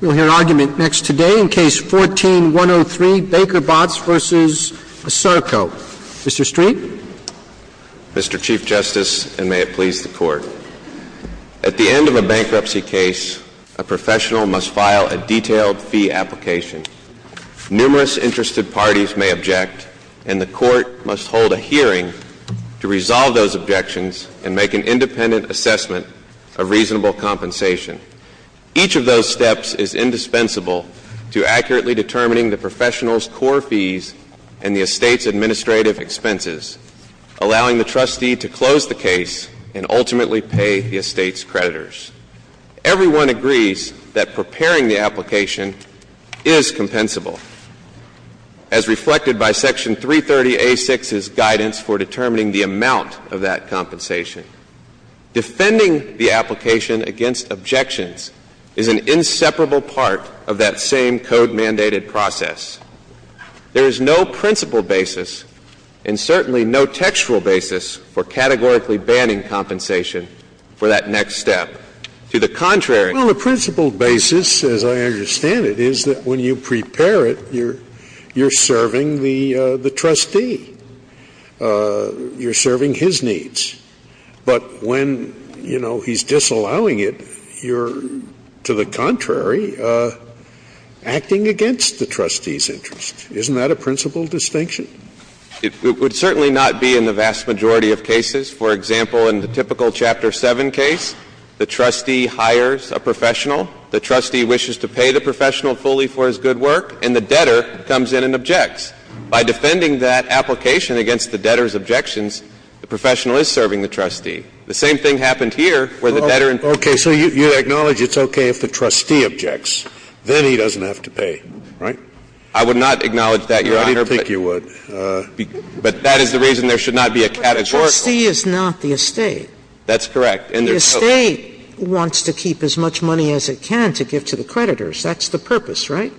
We'll hear argument next today in Case 14-103, Baker-Botts v. ASARCO. Mr. Street? Mr. Chief Justice, and may it please the Court, at the end of a bankruptcy case, a professional must file a detailed fee application. Numerous interested parties may object, and the Court must hold a hearing to resolve those objections and make an independent assessment of reasonable compensation. Each of those steps is indispensable to accurately determining the professional's core fees and the estate's administrative expenses, allowing the trustee to close the case and ultimately pay the estate's creditors. Everyone agrees that preparing the application is compensable, as reflected by Section 330A6's guidance for determining the amount of that is an inseparable part of that same code-mandated process. There is no principle basis, and certainly no textual basis, for categorically banning compensation for that next step. To the contrary, the principle basis, as I understand it, is that when you prepare it, you're serving the trustee. You're serving his needs. But when, you know, he's allowing it, you're, to the contrary, acting against the trustee's interests. Isn't that a principle distinction? It would certainly not be in the vast majority of cases. For example, in the typical Chapter 7 case, the trustee hires a professional, the trustee wishes to pay the professional fully for his good work, and the debtor comes in and objects. By defending that application against the debtor's objections, the professional is serving the trustee. The same thing happened here, where the debtor objected. Okay. So you acknowledge it's okay if the trustee objects. Then he doesn't have to pay. Right? I would not acknowledge that, Your Honor. I didn't think you would. But that is the reason there should not be a categorical. But the trustee is not the estate. That's correct. And the estate wants to keep as much money as it can to give to the creditors. That's the purpose, right?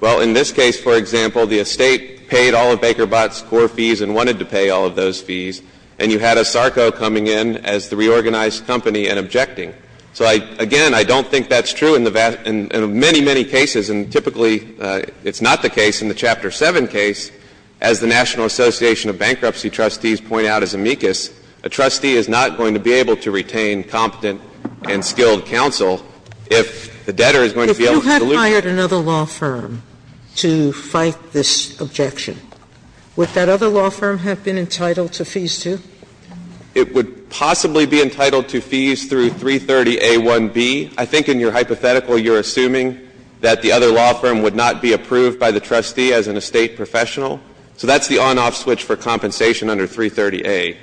Well, in this case, for example, the estate paid all of Baker Bott's core fees and wanted to pay all of those fees, and you had ASARCO coming in as the reorganized company and objecting. So, again, I don't think that's true in the vast – in many, many cases. And typically, it's not the case in the Chapter 7 case. As the National Association of Bankruptcy Trustees point out as amicus, a trustee is not going to be able to retain competent and skilled counsel if the debtor is going to be able to dilute it. Sotomayor, if you hired another law firm to fight this objection, would that other law firm have been entitled to fees, too? It would possibly be entitled to fees through 330A1B. I think in your hypothetical, you're assuming that the other law firm would not be approved by the trustee as an estate professional. So that's the on-off switch for compensation under 330A,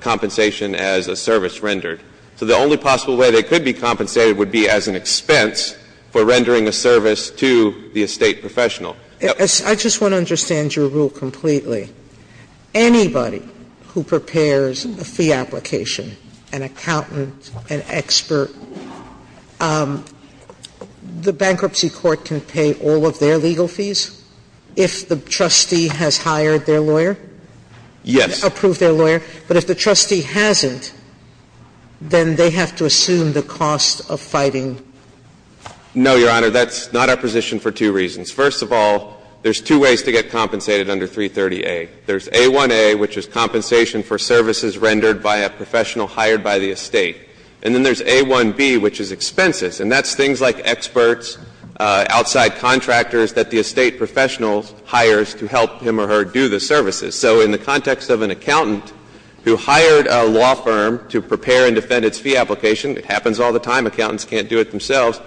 compensation as a service rendered. So the only possible way they could be compensated would be as an expense for rendering a service to the estate professional. I just want to understand your rule completely. Anybody who prepares a fee application, an accountant, an expert, the bankruptcy court can pay all of their legal fees if the trustee has hired their lawyer? Yes. Approved their lawyer. But if the trustee hasn't, then they have to assume the cost of fighting. No, Your Honor. That's not our position for two reasons. First of all, there's two ways to get compensated under 330A. There's A1A, which is compensation for services rendered by a professional hired by the estate. And then there's A1B, which is expenses. And that's things like experts, outside contractors that the estate professional hires to help him or her do the services. So in the context of an accountant who hired a law firm to prepare and defend its fee application, it happens all the time, accountants can't do it themselves,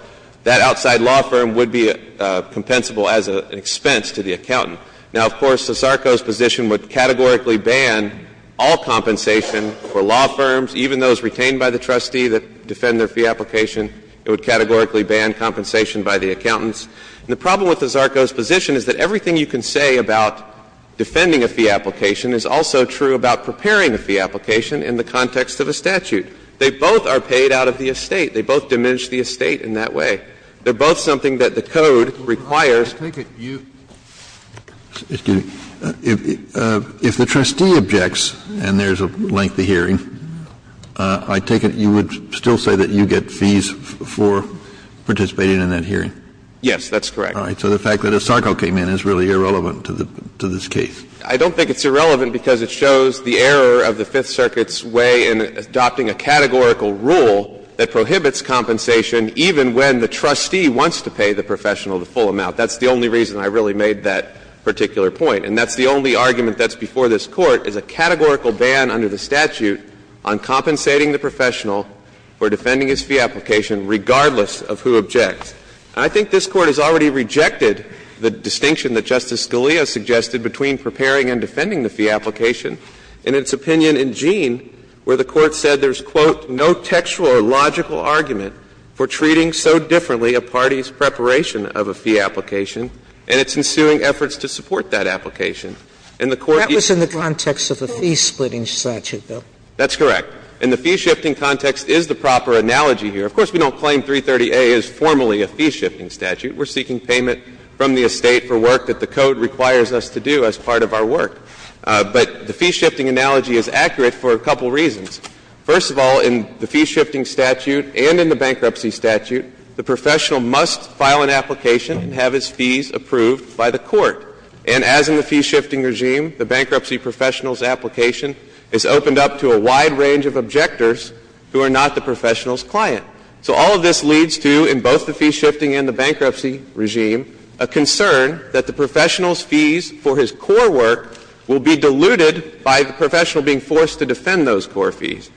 that outside law firm would be compensable as an expense to the accountant. Now, of course, the Zarco's position would categorically ban all compensation for law firms, even those retained by the trustee that defend their fee application. It would categorically ban compensation by the accountants. And the problem with the Zarco's position is that everything you can say about defending a fee application is also true about preparing a fee application in the context of a statute. They both are paid out of the estate. They both diminish the estate in that way. They're both something that the code requires. Kennedy, if the trustee objects and there's a lengthy hearing, I take it you would still say that you get fees for participating in that hearing? Yes, that's correct. All right. So the fact that a Zarco came in is really irrelevant to this case. I don't think it's irrelevant because it shows the error of the Fifth Circuit's way in adopting a categorical rule that prohibits compensation even when the trustee wants to pay the professional the full amount. That's the only reason I really made that particular point. And that's the only argument that's before this Court, is a categorical ban under the statute on compensating the professional for defending his fee application regardless of who objects. And I think this Court has already rejected the distinction that Justice Scalia suggested between preparing and defending the fee application and its opinion in Gein where the Court said there's, quote, no textual or logical argument for treating so differently a party's preparation of a fee application and its ensuing efforts to support that application. And the Court used that. That was in the context of a fee-splitting statute, though. That's correct. And the fee-shifting context is the proper analogy here. Of course, we don't claim 330A is formally a fee-shifting statute. We're seeking payment from the estate for work that the code requires us to do as part of our work. But the fee-shifting analogy is accurate for a couple reasons. First of all, in the fee-shifting statute and in the bankruptcy statute, the professional must file an application and have his fees approved by the Court. And as in the fee-shifting regime, the bankruptcy professional's application is opened up to a wide range of objectors who are not the professional's client. So all of this leads to, in both the fee-shifting and the bankruptcy regime, a concern that the professional's fees for his core work will be diluted by the professional being forced to defend those core fees.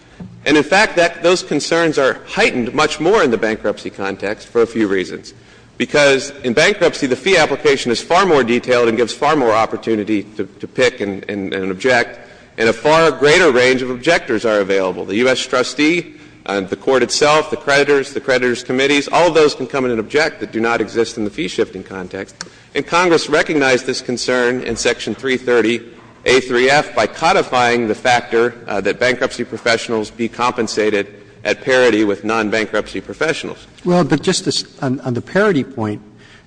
And in fact, those concerns are heightened much more in the bankruptcy context for a few reasons. Because in bankruptcy, the fee application is far more detailed and gives far more opportunity to pick and object, and a far greater range of objectors are available. The U.S. trustee, the Court itself, the creditors, the creditors' committees, all of those can come in and object that do not exist in the fee-shifting context. And Congress recognized this concern in section 330A.3.F. by codifying the factor that bankruptcy professionals be compensated at parity with nonbankruptcy professionals. Roberts. Well, but just on the parity point,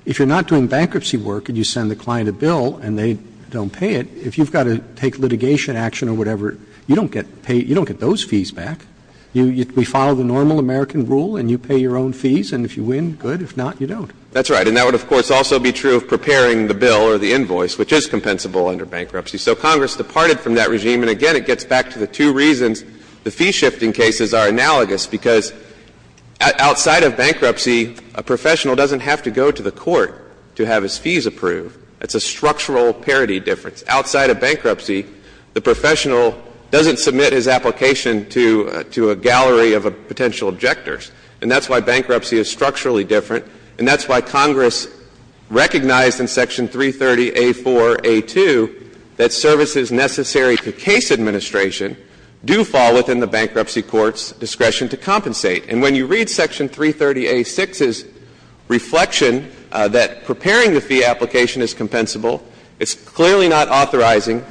if you're not doing bankruptcy work and you send the client a bill and they don't pay it, if you've got to take litigation action or whatever, you don't get those fees back. We follow the normal American rule and you pay your own fees, and if you win, good. If not, you don't. That's right. And that would, of course, also be true of preparing the bill or the invoice, which is compensable under bankruptcy. So Congress departed from that regime. And again, it gets back to the two reasons the fee-shifting cases are analogous. Because outside of bankruptcy, a professional doesn't have to go to the court to have his fees approved. It's a structural parity difference. Outside of bankruptcy, the professional doesn't submit his application to a gallery of potential objectors. And that's why bankruptcy is structurally different. And that's why Congress recognized in Section 330A.4.A.2 that services necessary to case administration do fall within the bankruptcy court's discretion to compensate. And when you read Section 330A.6's reflection that preparing the fee application is compensable, it's clearly not authorizing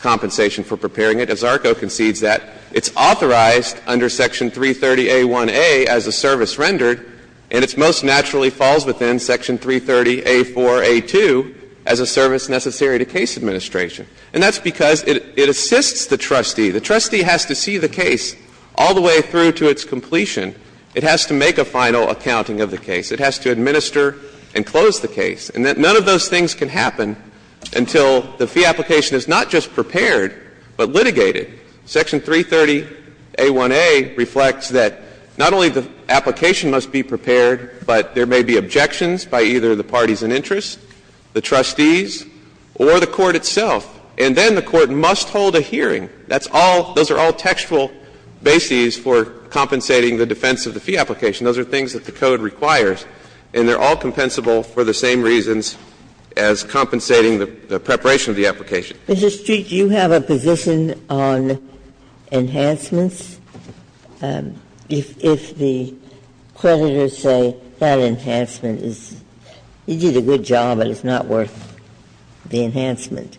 compensation for preparing it. As ARCO concedes that, it's authorized under Section 330A.1a as a service rendered and it most naturally falls within Section 330A.4.A.2 as a service necessary to case administration. And that's because it assists the trustee. The trustee has to see the case all the way through to its completion. It has to make a final accounting of the case. It has to administer and close the case. And that none of those things can happen until the fee application is not just prepared but litigated. Section 330A.1.A. reflects that not only the application must be prepared, but there may be objections by either the parties in interest, the trustees, or the court itself. And then the court must hold a hearing. That's all — those are all textual bases for compensating the defense of the fee application. Those are things that the code requires, and they're all compensable for the same reasons as compensating the preparation of the application. Ginsburg, do you have a position on enhancements? If the creditors say that enhancement is — you did a good job, but it's not worth the enhancement,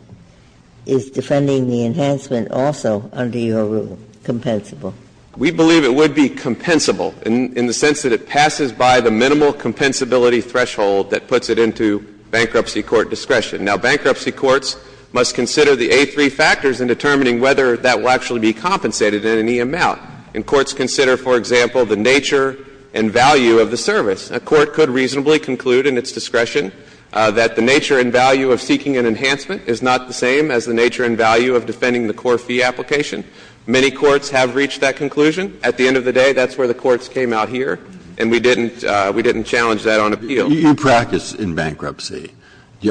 is defending the enhancement also under your rule compensable? We believe it would be compensable. In the sense that it passes by the minimal compensability threshold that puts it into bankruptcy court discretion. Now, bankruptcy courts must consider the A3 factors in determining whether that will actually be compensated in any amount. And courts consider, for example, the nature and value of the service. A court could reasonably conclude in its discretion that the nature and value of seeking an enhancement is not the same as the nature and value of defending the core fee application. Many courts have reached that conclusion. At the end of the day, that's where the courts came out here, and we didn't — we didn't challenge that on appeal. Breyer, you practice in bankruptcy.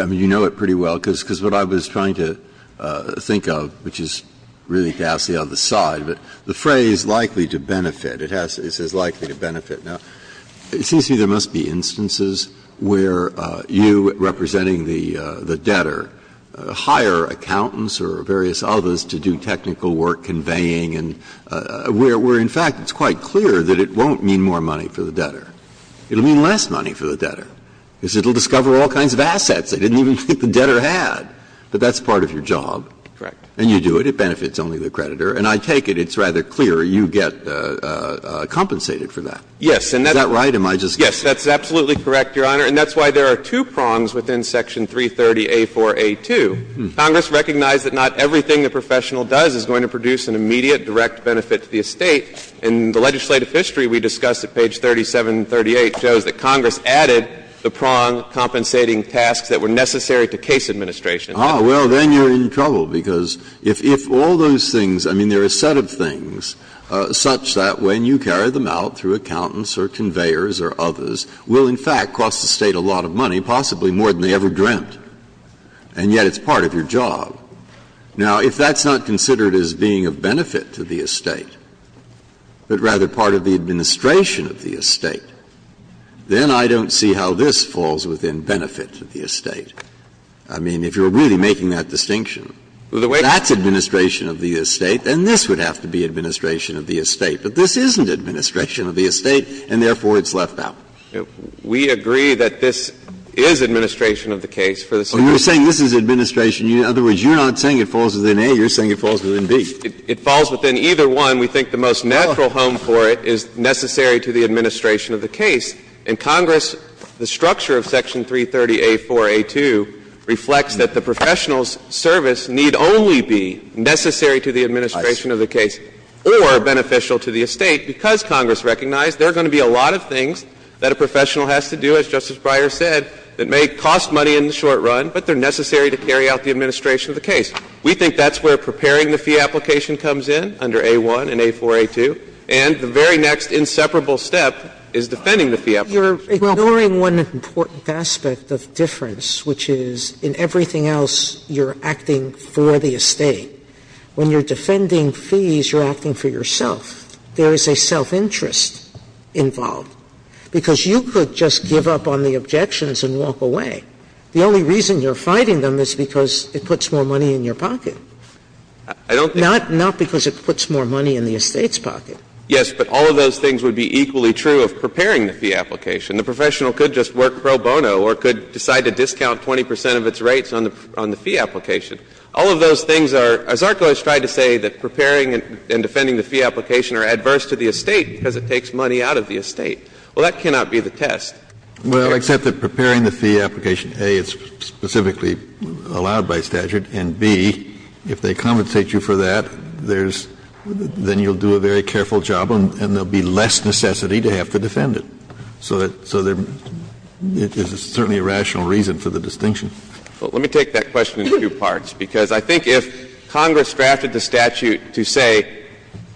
I mean, you know it pretty well, because what I was trying to think of, which is really ghastly on the side, but the phrase, likely to benefit, it has — it says likely to benefit. Now, it seems to me there must be instances where you, representing the debtor, hire accountants or various others to do technical work conveying and we're in favor And in fact, it's quite clear that it won't mean more money for the debtor. It will mean less money for the debtor, because it will discover all kinds of assets they didn't even think the debtor had. But that's part of your job. Correct. And you do it. It benefits only the creditor. And I take it it's rather clear you get compensated for that. Yes. Is that right? Am I just guessing? Yes, that's absolutely correct, Your Honor. And that's why there are two prongs within section 330A4A2. Congress recognized that not everything a professional does is going to produce an immediate direct benefit to the estate. And the legislative history we discussed at page 37 and 38 shows that Congress added the prong compensating tasks that were necessary to case administration. Ah, well, then you're in trouble, because if all those things — I mean, there are a set of things such that when you carry them out through accountants or conveyors or others will, in fact, cost the State a lot of money, possibly more than they ever dreamt, and yet it's part of your job. Now, if that's not considered as being of benefit to the estate, but rather part of the administration of the estate, then I don't see how this falls within benefit to the estate. I mean, if you're really making that distinction, that's administration of the estate, then this would have to be administration of the estate. But this isn't administration of the estate, and therefore it's left out. We agree that this is administration of the case for the State. Well, you're saying this is administration. In other words, you're not saying it falls within A. You're saying it falls within B. It falls within either one. We think the most natural home for it is necessary to the administration of the case. And Congress, the structure of Section 330A4A2 reflects that the professional's service need only be necessary to the administration of the case or beneficial to the estate, because Congress recognized there are going to be a lot of things that a professional has to do, as Justice Breyer said, that may cost money in the short run, but they're necessary to carry out the administration of the case. We think that's where preparing the fee application comes in under A.1 and A.4A2. And the very next inseparable step is defending the fee application. Sotomayor You're ignoring one important aspect of difference, which is in everything else you're acting for the estate. When you're defending fees, you're acting for yourself. There is a self-interest involved. Because you could just give up on the objections and walk away. The only reason you're fighting them is because it puts more money in your pocket. Not because it puts more money in the estate's pocket. Yes, but all of those things would be equally true of preparing the fee application. The professional could just work pro bono or could decide to discount 20 percent of its rates on the fee application. All of those things are — Zarco has tried to say that preparing and defending the fee application are adverse to the estate because it takes money out of the estate. Well, that cannot be the test. Kennedy Well, except that preparing the fee application, A, is specifically allowed by statute, and, B, if they compensate you for that, there's — then you'll do a very careful job and there will be less necessity to have to defend it. So there's certainly a rational reason for the distinction. Well, let me take that question in two parts, because I think if Congress drafted the statute to say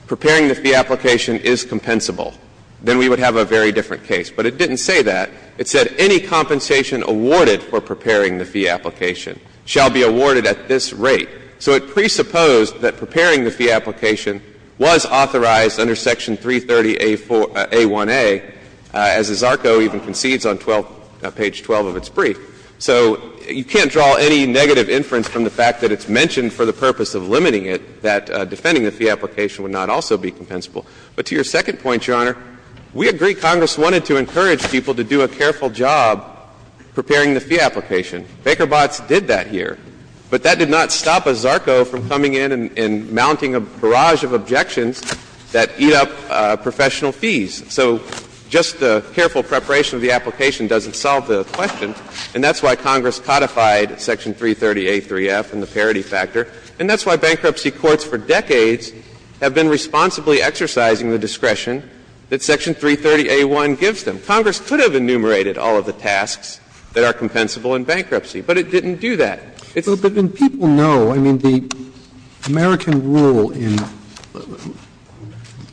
preparing the fee application is compensable, then we would have a very different case. But it didn't say that. It said any compensation awarded for preparing the fee application shall be awarded at this rate. So it presupposed that preparing the fee application was authorized under Section 330A1A, as Zarco even concedes on 12 — page 12 of its brief. So you can't draw any negative inference from the fact that it's mentioned for the purpose of limiting it that defending the fee application would not also be compensable. But to your second point, Your Honor, we agree Congress wanted to encourage people to do a careful job preparing the fee application. Baker-Botz did that here. But that did not stop a Zarco from coming in and mounting a barrage of objections that eat up professional fees. So just the careful preparation of the application doesn't solve the question, and that's why Congress codified Section 330A3F and the parity factor, and that's why bankruptcy courts for decades have been responsibly exercising the discretion that Section 330A1 gives them. Congress could have enumerated all of the tasks that are compensable in bankruptcy, but it didn't do that. It's — Roberts. But then people know, I mean, the American rule in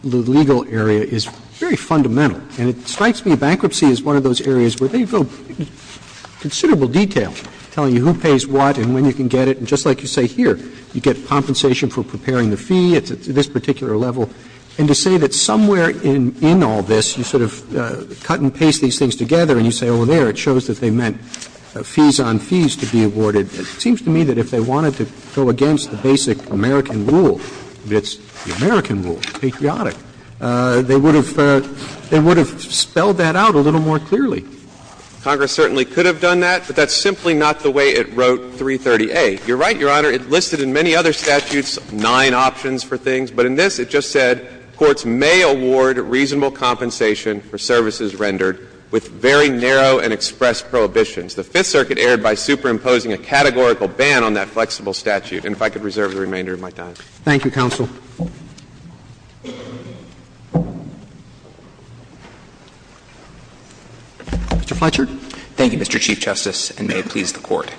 the legal area is very fundamental. And it strikes me bankruptcy is one of those areas where they go in considerable detail, telling you who pays what and when you can get it. And just like you say here, you get compensation for preparing the fee, it's at this particular level. And to say that somewhere in all this, you sort of cut and paste these things together, and you say, oh, there, it shows that they meant fees on fees to be awarded, it seems to me that if they wanted to go against the basic American rule, it's the American rule, patriotic, they would have spelled that out a little more clearly. Congress certainly could have done that, but that's simply not the way it wrote 330A. You're right, Your Honor, it listed in many other statutes nine options for things. But in this, it just said courts may award reasonable compensation for services rendered with very narrow and expressed prohibitions. The Fifth Circuit erred by superimposing a categorical ban on that flexible statute. And if I could reserve the remainder of my time. Roberts. Thank you, counsel. Mr. Fletcher. Thank you, Mr. Chief Justice, and may it please the Court.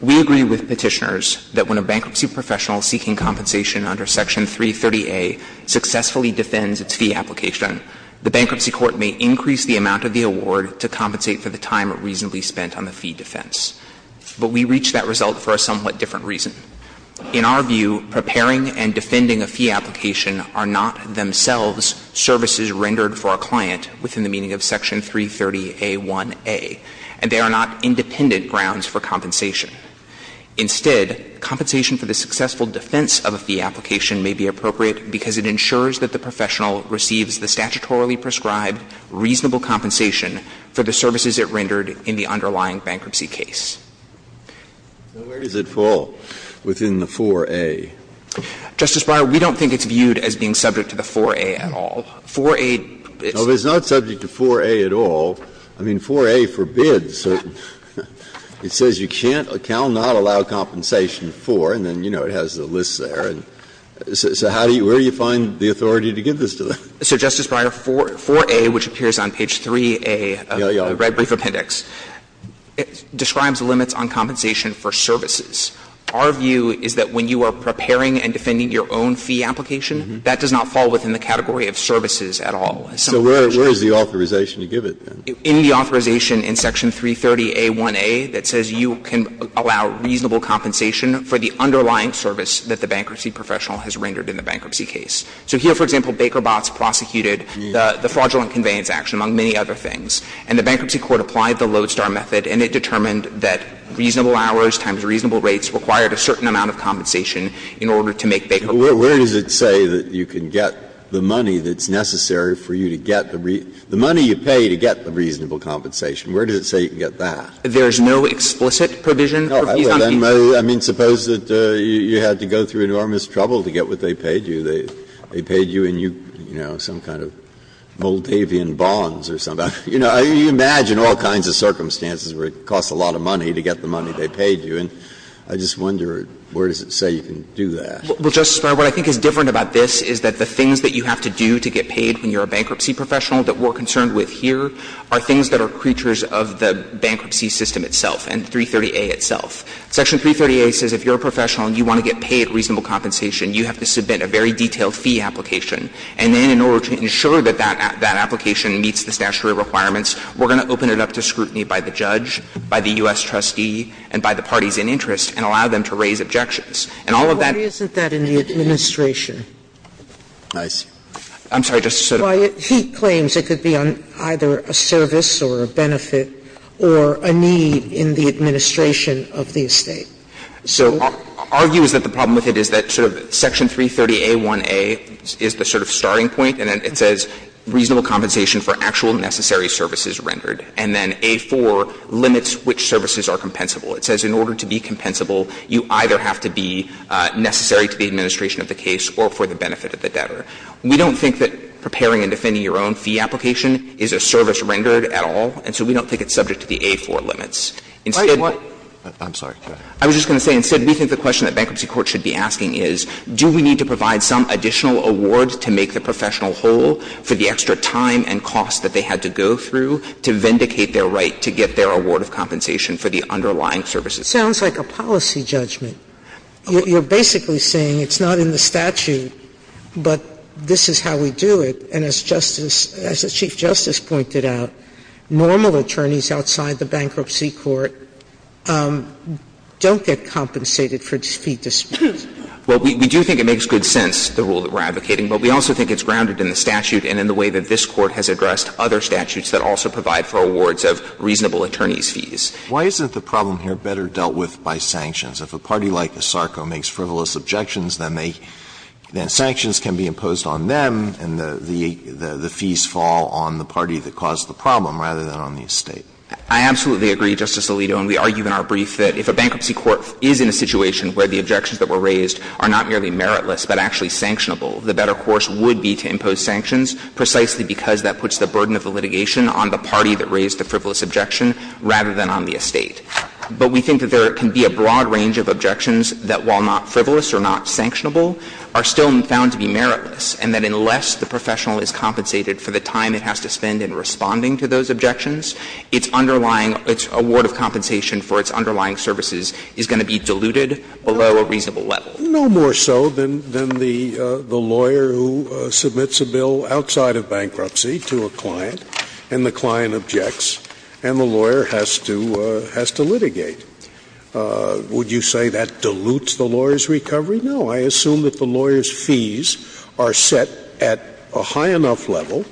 We agree with Petitioners that when a bankruptcy professional seeking compensation under Section 330A successfully defends its fee application, the bankruptcy court may increase the amount of the award to compensate for the time reasonably spent on the fee defense. But we reach that result for a somewhat different reason. In our view, preparing and defending a fee application are not themselves services rendered for a client within the meaning of Section 330A1A, and they are not independent grounds for compensation. Instead, compensation for the successful defense of a fee application may be appropriate because it ensures that the professional receives the statutorily prescribed reasonable compensation for the services it rendered in the underlying bankruptcy case. Breyer, we don't think it's viewed as being subject to the 4A at all. 4A is not subject to 4A at all. I mean, 4A forbids. It says you can't, cannot allow compensation for, and then, you know, it has the list there. So how do you, where do you find the authority to give this to them? So, Justice Breyer, 4A, which appears on page 3A of the Red Brief Appendix, describes limits on compensation for services. Our view is that when you are preparing and defending your own fee application, that does not fall within the category of services at all. So where is the authorization to give it then? In the authorization in Section 330a1a, that says you can allow reasonable compensation for the underlying service that the bankruptcy professional has rendered in the bankruptcy case. So here, for example, Baker Botts prosecuted the fraudulent conveyance action, among many other things. And the Bankruptcy Court applied the Lodestar method, and it determined that reasonable hours times reasonable rates required a certain amount of compensation in order to make Baker Botts. Breyer, where does it say that you can get the money that's necessary for you to get the money you pay to get the reasonable compensation? Where does it say you can get that? There is no explicit provision. I mean, suppose that you had to go through enormous trouble to get what they paid you. They paid you in, you know, some kind of Moldavian bonds or something. You know, you imagine all kinds of circumstances where it costs a lot of money to get the money they paid you. And I just wonder where does it say you can do that? Well, Justice Breyer, what I think is different about this is that the things that you have to do to get paid when you're a bankruptcy professional that we're concerned with here are things that are creatures of the bankruptcy system itself and 330A itself. Section 330A says if you're a professional and you want to get paid reasonable compensation, you have to submit a very detailed fee application. And then in order to ensure that that application meets the statutory requirements, we're going to open it up to scrutiny by the judge, by the U.S. trustee, and by the parties in interest, and allow them to raise objections. And all of that — Why isn't that in the administration? I'm sorry, Justice Sotomayor. He claims it could be on either a service or a benefit or a need in the administration of the estate. So argue is that the problem with it is that sort of Section 330A1A is the sort of starting point. And it says reasonable compensation for actual necessary services rendered. And then A4 limits which services are compensable. It says in order to be compensable, you either have to be necessary to the administration of the case or for the benefit of the debtor. We don't think that preparing and defending your own fee application is a service rendered at all. And so we don't think it's subject to the A4 limits. Instead — Wait, what? I'm sorry. I was just going to say, instead, we think the question that bankruptcy court should be asking is, do we need to provide some additional award to make the professional whole for the extra time and cost that they had to go through to vindicate their right to get their award of compensation for the underlying services? It sounds like a policy judgment. You're basically saying it's not in the statute, but this is how we do it. And as Justice — as the Chief Justice pointed out, normal attorneys outside the bankruptcy court don't get compensated for fee disputes. Well, we do think it makes good sense, the rule that we're advocating. But we also think it's grounded in the statute and in the way that this Court has addressed other statutes that also provide for awards of reasonable attorney's fees. Why isn't the problem here better dealt with by sanctions? If a party like ASARCO makes frivolous objections, then they — then sanctions can be imposed on them, and the fees fall on the party that caused the problem, rather than on the estate. I absolutely agree, Justice Alito, and we argue in our brief that if a bankruptcy court is in a situation where the objections that were raised are not merely meritless but actually sanctionable, the better course would be to impose sanctions precisely because that puts the burden of the litigation on the party that raised the frivolous objection, rather than on the estate. But we think that there can be a broad range of objections that, while not frivolous or not sanctionable, are still found to be meritless, and that unless the professional is compensated for the time it has to spend in responding to those objections, its underlying — its award of compensation for its underlying services is going to be diluted below a reasonable level. No more so than the lawyer who submits a bill outside of bankruptcy to a client, and the client objects, and the lawyer has to — has to litigate. Would you say that dilutes the lawyer's recovery? No. I assume that the lawyer's fees are set at a high enough level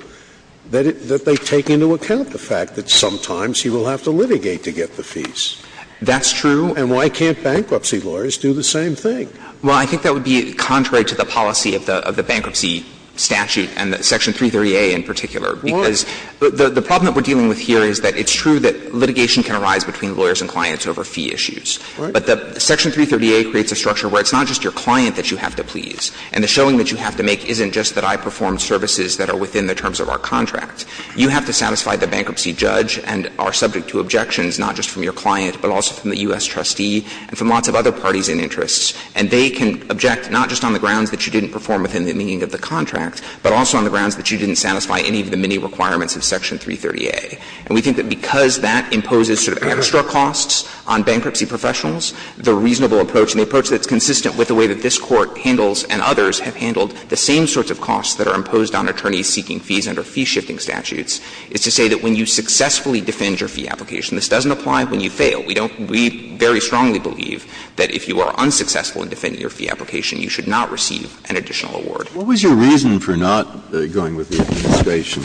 that it — that they take into account the fact that sometimes he will have to litigate to get the fees. That's true. And why can't bankruptcy lawyers do the same thing? Well, I think that would be contrary to the policy of the — of the bankruptcy statute and Section 330A in particular. Why? Because the problem that we're dealing with here is that it's true that litigation can arise between lawyers and clients over fee issues. Right. But the Section 330A creates a structure where it's not just your client that you have to please, and the showing that you have to make isn't just that I performed services that are within the terms of our contract. You have to satisfy the bankruptcy judge and are subject to objections not just from your client, but also from the U.S. trustee and from lots of other parties in interest. And they can object not just on the grounds that you didn't perform within the meaning of the contract, but also on the grounds that you didn't satisfy any of the many requirements of Section 330A. And we think that because that imposes sort of extra costs on bankruptcy professionals, the reasonable approach and the approach that's consistent with the way that this Court handles and others have handled the same sorts of costs that are imposed on attorneys seeking fees under fee-shifting statutes is to say that when you successfully defend your fee application, this doesn't apply when you fail. We don't — we very strongly believe that if you are unsuccessful in defending your fee application, you should not receive an additional award. Breyer. What was your reason for not going with the administration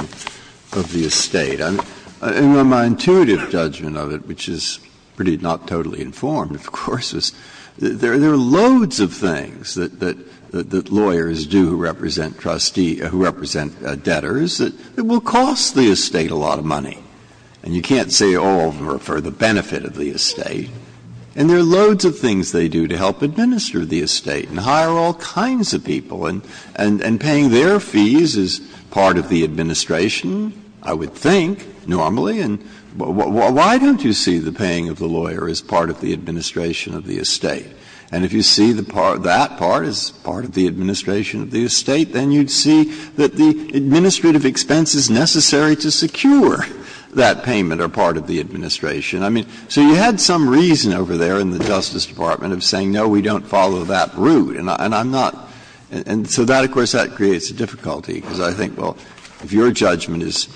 of the estate? And my intuitive judgment of it, which is pretty not totally informed, of course, is there are loads of things that lawyers do who represent trustee — who represent debtors that will cost the estate a lot of money. And you can't say all of them are for the benefit of the estate. And there are loads of things they do to help administer the estate and hire all kinds of people. And paying their fees is part of the administration, I would think, normally. And why don't you see the paying of the lawyer as part of the administration of the estate? And if you see that part as part of the administration of the estate, then you would see that the administrative expenses necessary to secure that payment are part of the administration. I mean, so you had some reason over there in the Justice Department of saying, no, we don't follow that route. And I'm not — and so that, of course, that creates a difficulty, because I think, well, if your judgment is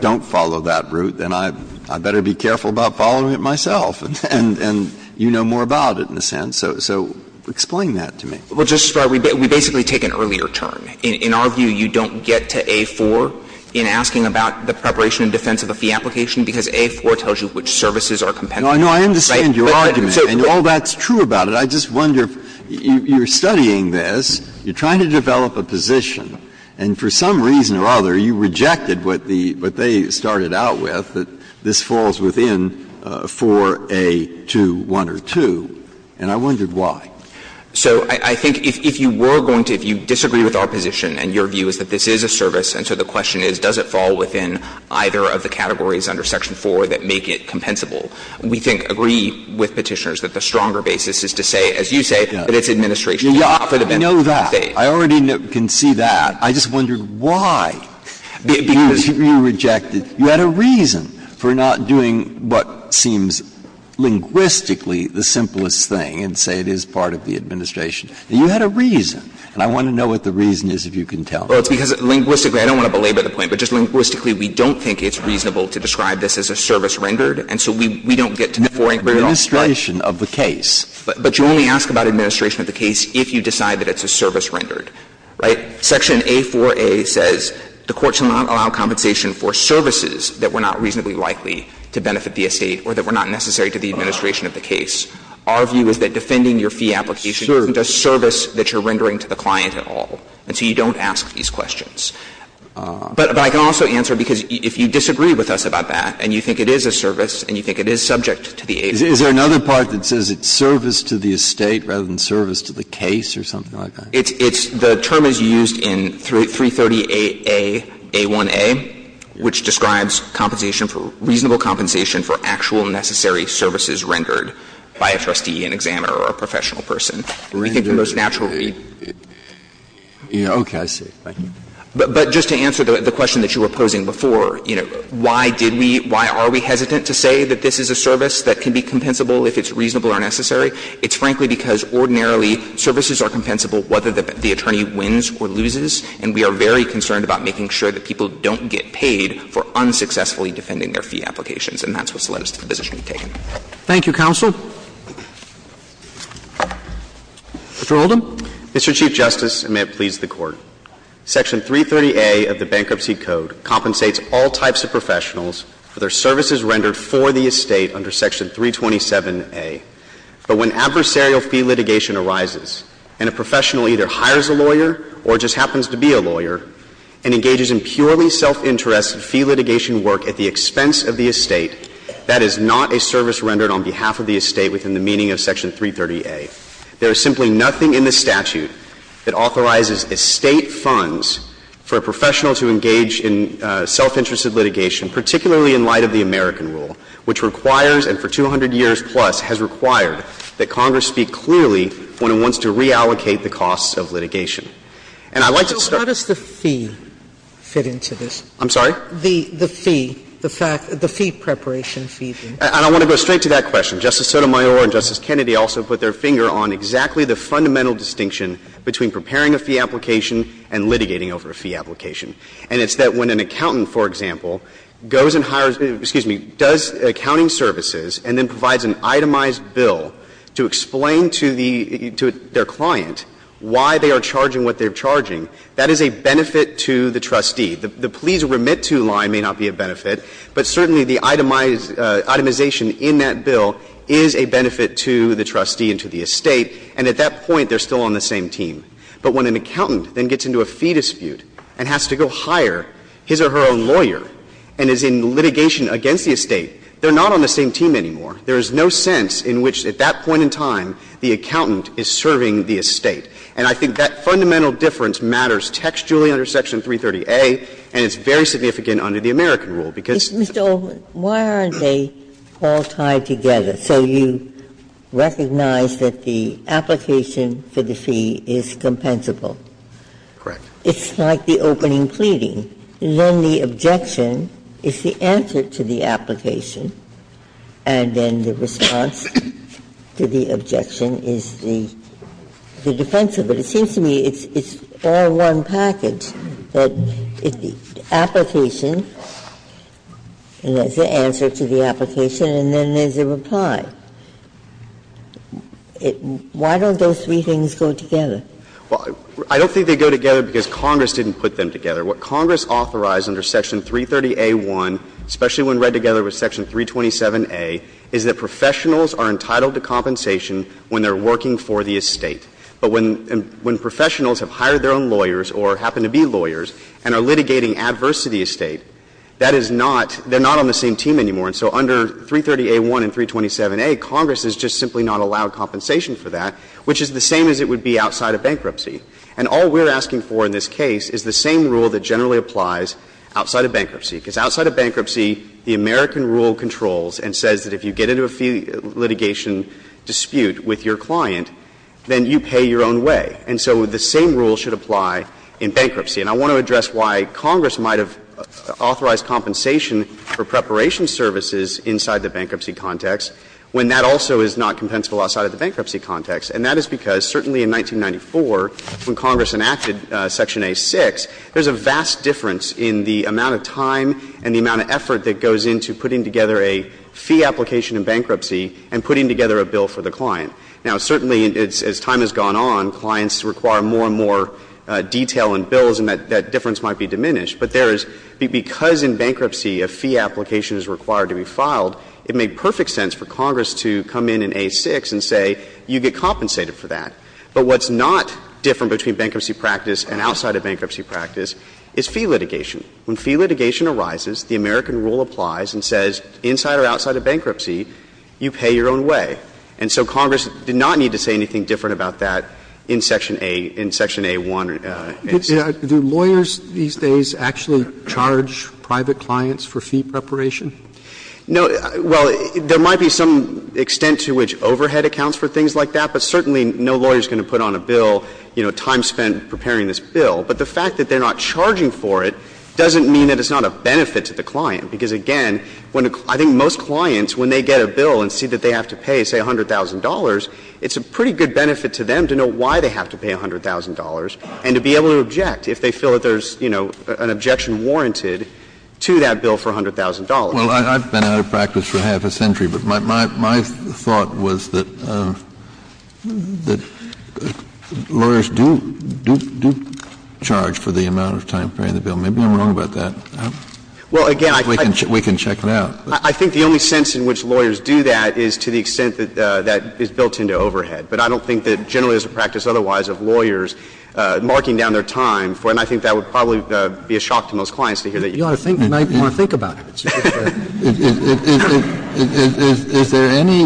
don't follow that route, then I better be careful about following it myself. And you know more about it, in a sense. So explain that to me. Well, Justice Breyer, we basically take an earlier turn. In our view, you don't get to A-4 in asking about the preparation and defense of a fee application, because A-4 tells you which services are compensated. No, I understand your argument. And all that's true about it. But I just wonder, you're studying this, you're trying to develop a position, and for some reason or other you rejected what they started out with, that this falls within 4A21 or 2, and I wondered why. So I think if you were going to — if you disagree with our position, and your view is that this is a service, and so the question is, does it fall within either of the categories under Section 4 that make it compensable, we think, agree with Petitioners that the stronger basis is to say, as you say, that it's administration. You offered a benefit. You know that. I already can see that. I just wondered why you rejected. You had a reason for not doing what seems linguistically the simplest thing and say it is part of the administration. You had a reason, and I want to know what the reason is, if you can tell me. Well, it's because linguistically, I don't want to belabor the point, but just linguistically, we don't think it's reasonable to describe this as a service rendered, and so we don't get to 4A at all. But you only ask about administration of the case if you decide that it's a service rendered, right? Section A4A says the Court shall not allow compensation for services that were not reasonably likely to benefit the estate or that were not necessary to the administration of the case. Our view is that defending your fee application isn't a service that you're rendering to the client at all, and so you don't ask these questions. But I can also answer, because if you disagree with us about that, and you think it is a service, and you think it is subject to the agency. Is there another part that says it's service to the estate rather than service to the case or something like that? It's the term as used in 330aA1a, which describes compensation for — reasonable compensation for actual necessary services rendered by a trustee, an examiner, or a professional person. I think the most natural read. Yeah, okay. I see. Thank you. But just to answer the question that you were posing before, you know, why did we — why are we hesitant to say that this is a service that can be compensable if it's reasonable or necessary? It's frankly because ordinarily services are compensable whether the attorney wins or loses, and we are very concerned about making sure that people don't get paid for unsuccessfully defending their fee applications. And that's what's led us to the decision we've taken. Thank you, counsel. Mr. Oldham. Mr. Chief Justice, and may it please the Court. Section 330a of the Bankruptcy Code compensates all types of professionals for their services rendered for the estate under Section 327a. But when adversarial fee litigation arises and a professional either hires a lawyer or just happens to be a lawyer and engages in purely self-interest fee litigation work at the expense of the estate, that is not a service rendered on behalf of the estate within the meaning of Section 330a. There is simply nothing in the statute that authorizes estate funds for a professional to engage in self-interested litigation, particularly in light of the American rule, which requires and for 200 years plus has required that Congress speak clearly when it wants to reallocate the costs of litigation. And I'd like to start— So how does the fee fit into this? I'm sorry? The fee, the fact — the fee preparation fee thing. And I want to go straight to that question. Justice Sotomayor and Justice Kennedy also put their finger on exactly the fundamental distinction between preparing a fee application and litigating over a fee application. And it's that when an accountant, for example, goes and hires — excuse me, does accounting services and then provides an itemized bill to explain to the — to their client why they are charging what they're charging, that is a benefit to the trustee. The please remit to line may not be a benefit, but certainly the itemized — itemization in that bill is a benefit to the trustee and to the estate. And at that point, they're still on the same team. But when an accountant then gets into a fee dispute and has to go hire his or her own lawyer and is in litigation against the estate, they're not on the same team anymore. There is no sense in which at that point in time the accountant is serving the estate. And I think that fundamental difference matters textually under Section 330A, and it's very significant under the American rule, because— Ginsburg. Why aren't they all tied together? So you recognize that the application for the fee is compensable. Correct. It's like the opening pleading. Then the objection is the answer to the application, and then the response to the objection is the defense of it. But it seems to me it's all one package, that the application, and there's the answer to the application, and then there's a reply. Why don't those three things go together? Well, I don't think they go together because Congress didn't put them together. What Congress authorized under Section 330A.1, especially when read together with Section 327A, is that professionals are entitled to compensation when they're working for the estate. But when professionals have hired their own lawyers or happen to be lawyers and are litigating adverse to the estate, that is not — they're not on the same team anymore. And so under 330A.1 and 327A, Congress has just simply not allowed compensation for that, which is the same as it would be outside of bankruptcy. And all we're asking for in this case is the same rule that generally applies outside of bankruptcy. Because outside of bankruptcy, the American rule controls and says that if you get into a fee litigation dispute with your client, then you pay your own way. And so the same rule should apply in bankruptcy. And I want to address why Congress might have authorized compensation for preparation services inside the bankruptcy context when that also is not compensable outside of the bankruptcy context. And that is because certainly in 1994, when Congress enacted Section A.6, there's a vast difference in the amount of time and the amount of effort that goes into putting together a fee application in bankruptcy and putting together a bill for the client. Now, certainly, as time has gone on, clients require more and more detail in bills, and that difference might be diminished. But there is — because in bankruptcy a fee application is required to be filed, it made perfect sense for Congress to come in in A.6 and say, you get compensated for that. But what's not different between bankruptcy practice and outside of bankruptcy practice is fee litigation. When fee litigation arises, the American rule applies and says inside or outside of bankruptcy, you pay your own way. And so Congress did not need to say anything different about that in Section A — in Section A.1. Roberts. Roberts. Do lawyers these days actually charge private clients for fee preparation? No. Well, there might be some extent to which overhead accounts for things like that, but certainly no lawyer is going to put on a bill, you know, time spent preparing this bill. But the fact that they're not charging for it doesn't mean that it's not a benefit to the client. Because, again, when a — I think most clients, when they get a bill and see that they have to pay, say, $100,000, it's a pretty good benefit to them to know why they have to pay $100,000 and to be able to object if they feel that there's, you know, an objection warranted to that bill for $100,000. Well, I've been out of practice for half a century, but my thought was that lawyers do charge for the amount of time preparing the bill. Maybe I'm wrong about that. Well, again, I think we can check it out. I think the only sense in which lawyers do that is to the extent that that is built into overhead. But I don't think that generally there's a practice otherwise of lawyers marking down their time for it. And I think that would probably be a shock to most clients to hear that. You ought to think about it. Is there any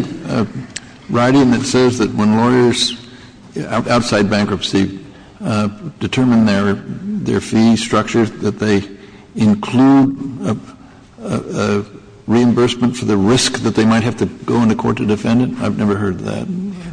writing that says that when lawyers, outside bankruptcy, determine their fee structures, that they include reimbursement for the risk that they might have to go in the court to defend it? I've never heard that.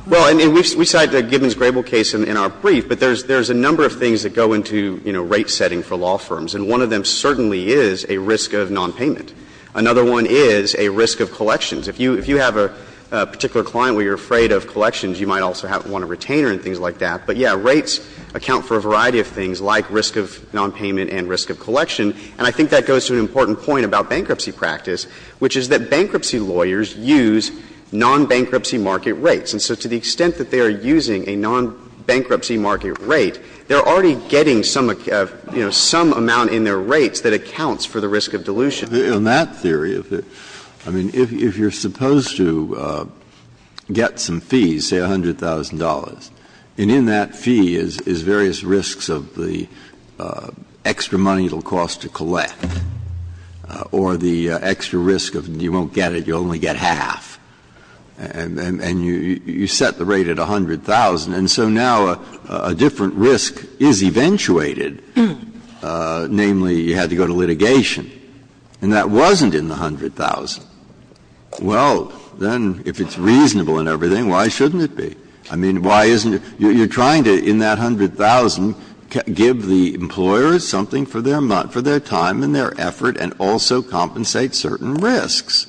Well, and we cite Gibbons-Grable case in our brief, but there's a number of things that go into, you know, rate setting for law firms, and one of them certainly is a risk of nonpayment. Another one is a risk of collections. If you have a particular client where you're afraid of collections, you might also want a retainer and things like that. But, yeah, rates account for a variety of things like risk of nonpayment and risk of collection. And I think that goes to an important point about bankruptcy practice, which is that bankruptcy lawyers use nonbankruptcy market rates. And so to the extent that they are using a nonbankruptcy market rate, they're already getting some, you know, some amount in their rates that accounts for the risk of dilution. In that theory, I mean, if you're supposed to get some fees, say $100,000, and in that fee is various risks of the extra money it will cost to collect, or the extra risk of you won't get it, you'll only get half, and you set the rate at $100,000. And so now a different risk is eventuated, namely, you had to go to litigation. And that wasn't in the $100,000. Well, then, if it's reasonable and everything, why shouldn't it be? I mean, why isn't it? You're trying to, in that $100,000, give the employer something for their time and their effort and also compensate certain risks.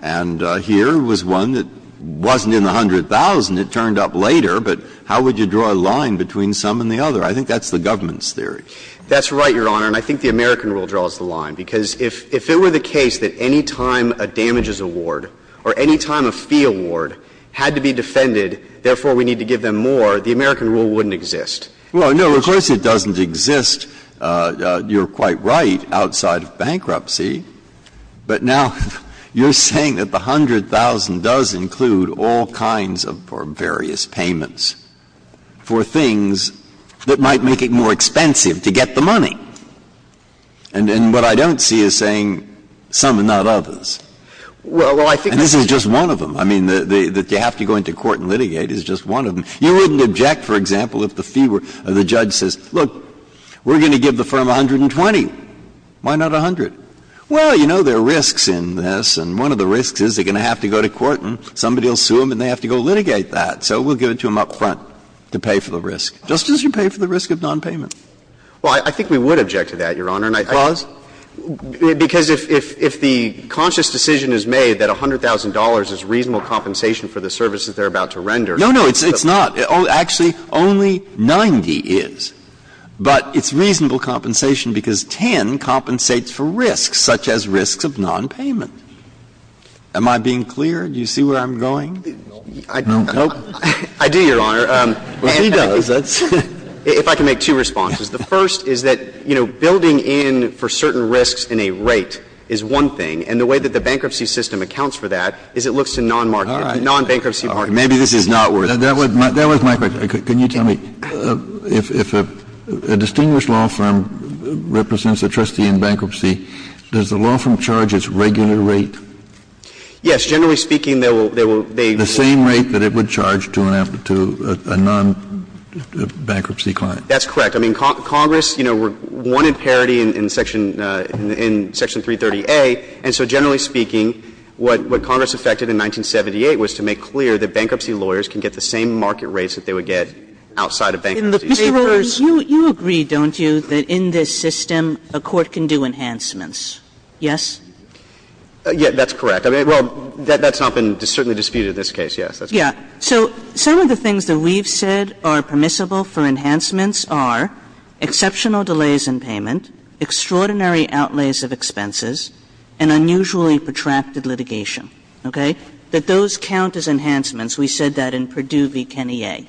And here was one that wasn't in the $100,000. It turned up later, but how would you draw a line between some and the other? I think that's the government's theory. That's right, Your Honor. And I think the American rule draws the line. Because if it were the case that any time a damages award or any time a fee award had to be defended, therefore we need to give them more, the American rule wouldn't exist. Well, no, of course it doesn't exist, you're quite right, outside of bankruptcy. But now you're saying that the $100,000 does include all kinds of various payments for things that might make it more expensive to get the money. And what I don't see is saying some and not others. Well, I think this is just one of them. I mean, that you have to go into court and litigate is just one of them. You wouldn't object, for example, if the fee were or the judge says, look, we're going to give the firm $120,000. Why not $100,000? Well, you know, there are risks in this. And one of the risks is they're going to have to go to court and somebody will sue them and they have to go litigate that. So we'll give it to them up front to pay for the risk, just as you pay for the risk of nonpayment. Well, I think we would object to that, Your Honor. And I think that's because if the conscious decision is made that $100,000 is reasonable compensation for the services they're about to render. No, no, it's not. Actually, only 90 is. But it's reasonable compensation because 10 compensates for risks, such as risks of nonpayment. Am I being clear? Do you see where I'm going? No. I do, Your Honor. Well, he does. If I can make two responses. The first is that, you know, building in for certain risks in a rate is one thing, and the way that the bankruptcy system accounts for that is it looks to non-marketing, non-bankruptcy. Maybe this is not worth it. That was my question. Can you tell me, if a distinguished law firm represents a trustee in bankruptcy, does the law firm charge its regular rate? Yes. Generally speaking, they will. The same rate that it would charge to a non-bankruptcy client. That's correct. I mean, Congress, you know, wanted parity in Section 330A, and so generally speaking, what Congress effected in 1978 was to make clear that bankruptcy lawyers can get the same market rates that they would get outside of bankruptcy. In the payroll, you agree, don't you, that in this system a court can do enhancements? Yes? Yes, that's correct. I mean, well, that's not been certainly disputed in this case, yes. Yes. So some of the things that we've said are permissible for enhancements are exceptional delays in payment, extraordinary outlays of expenses, and unusually protracted litigation. Okay? That those count as enhancements. We said that in Perdue v. Kenny A.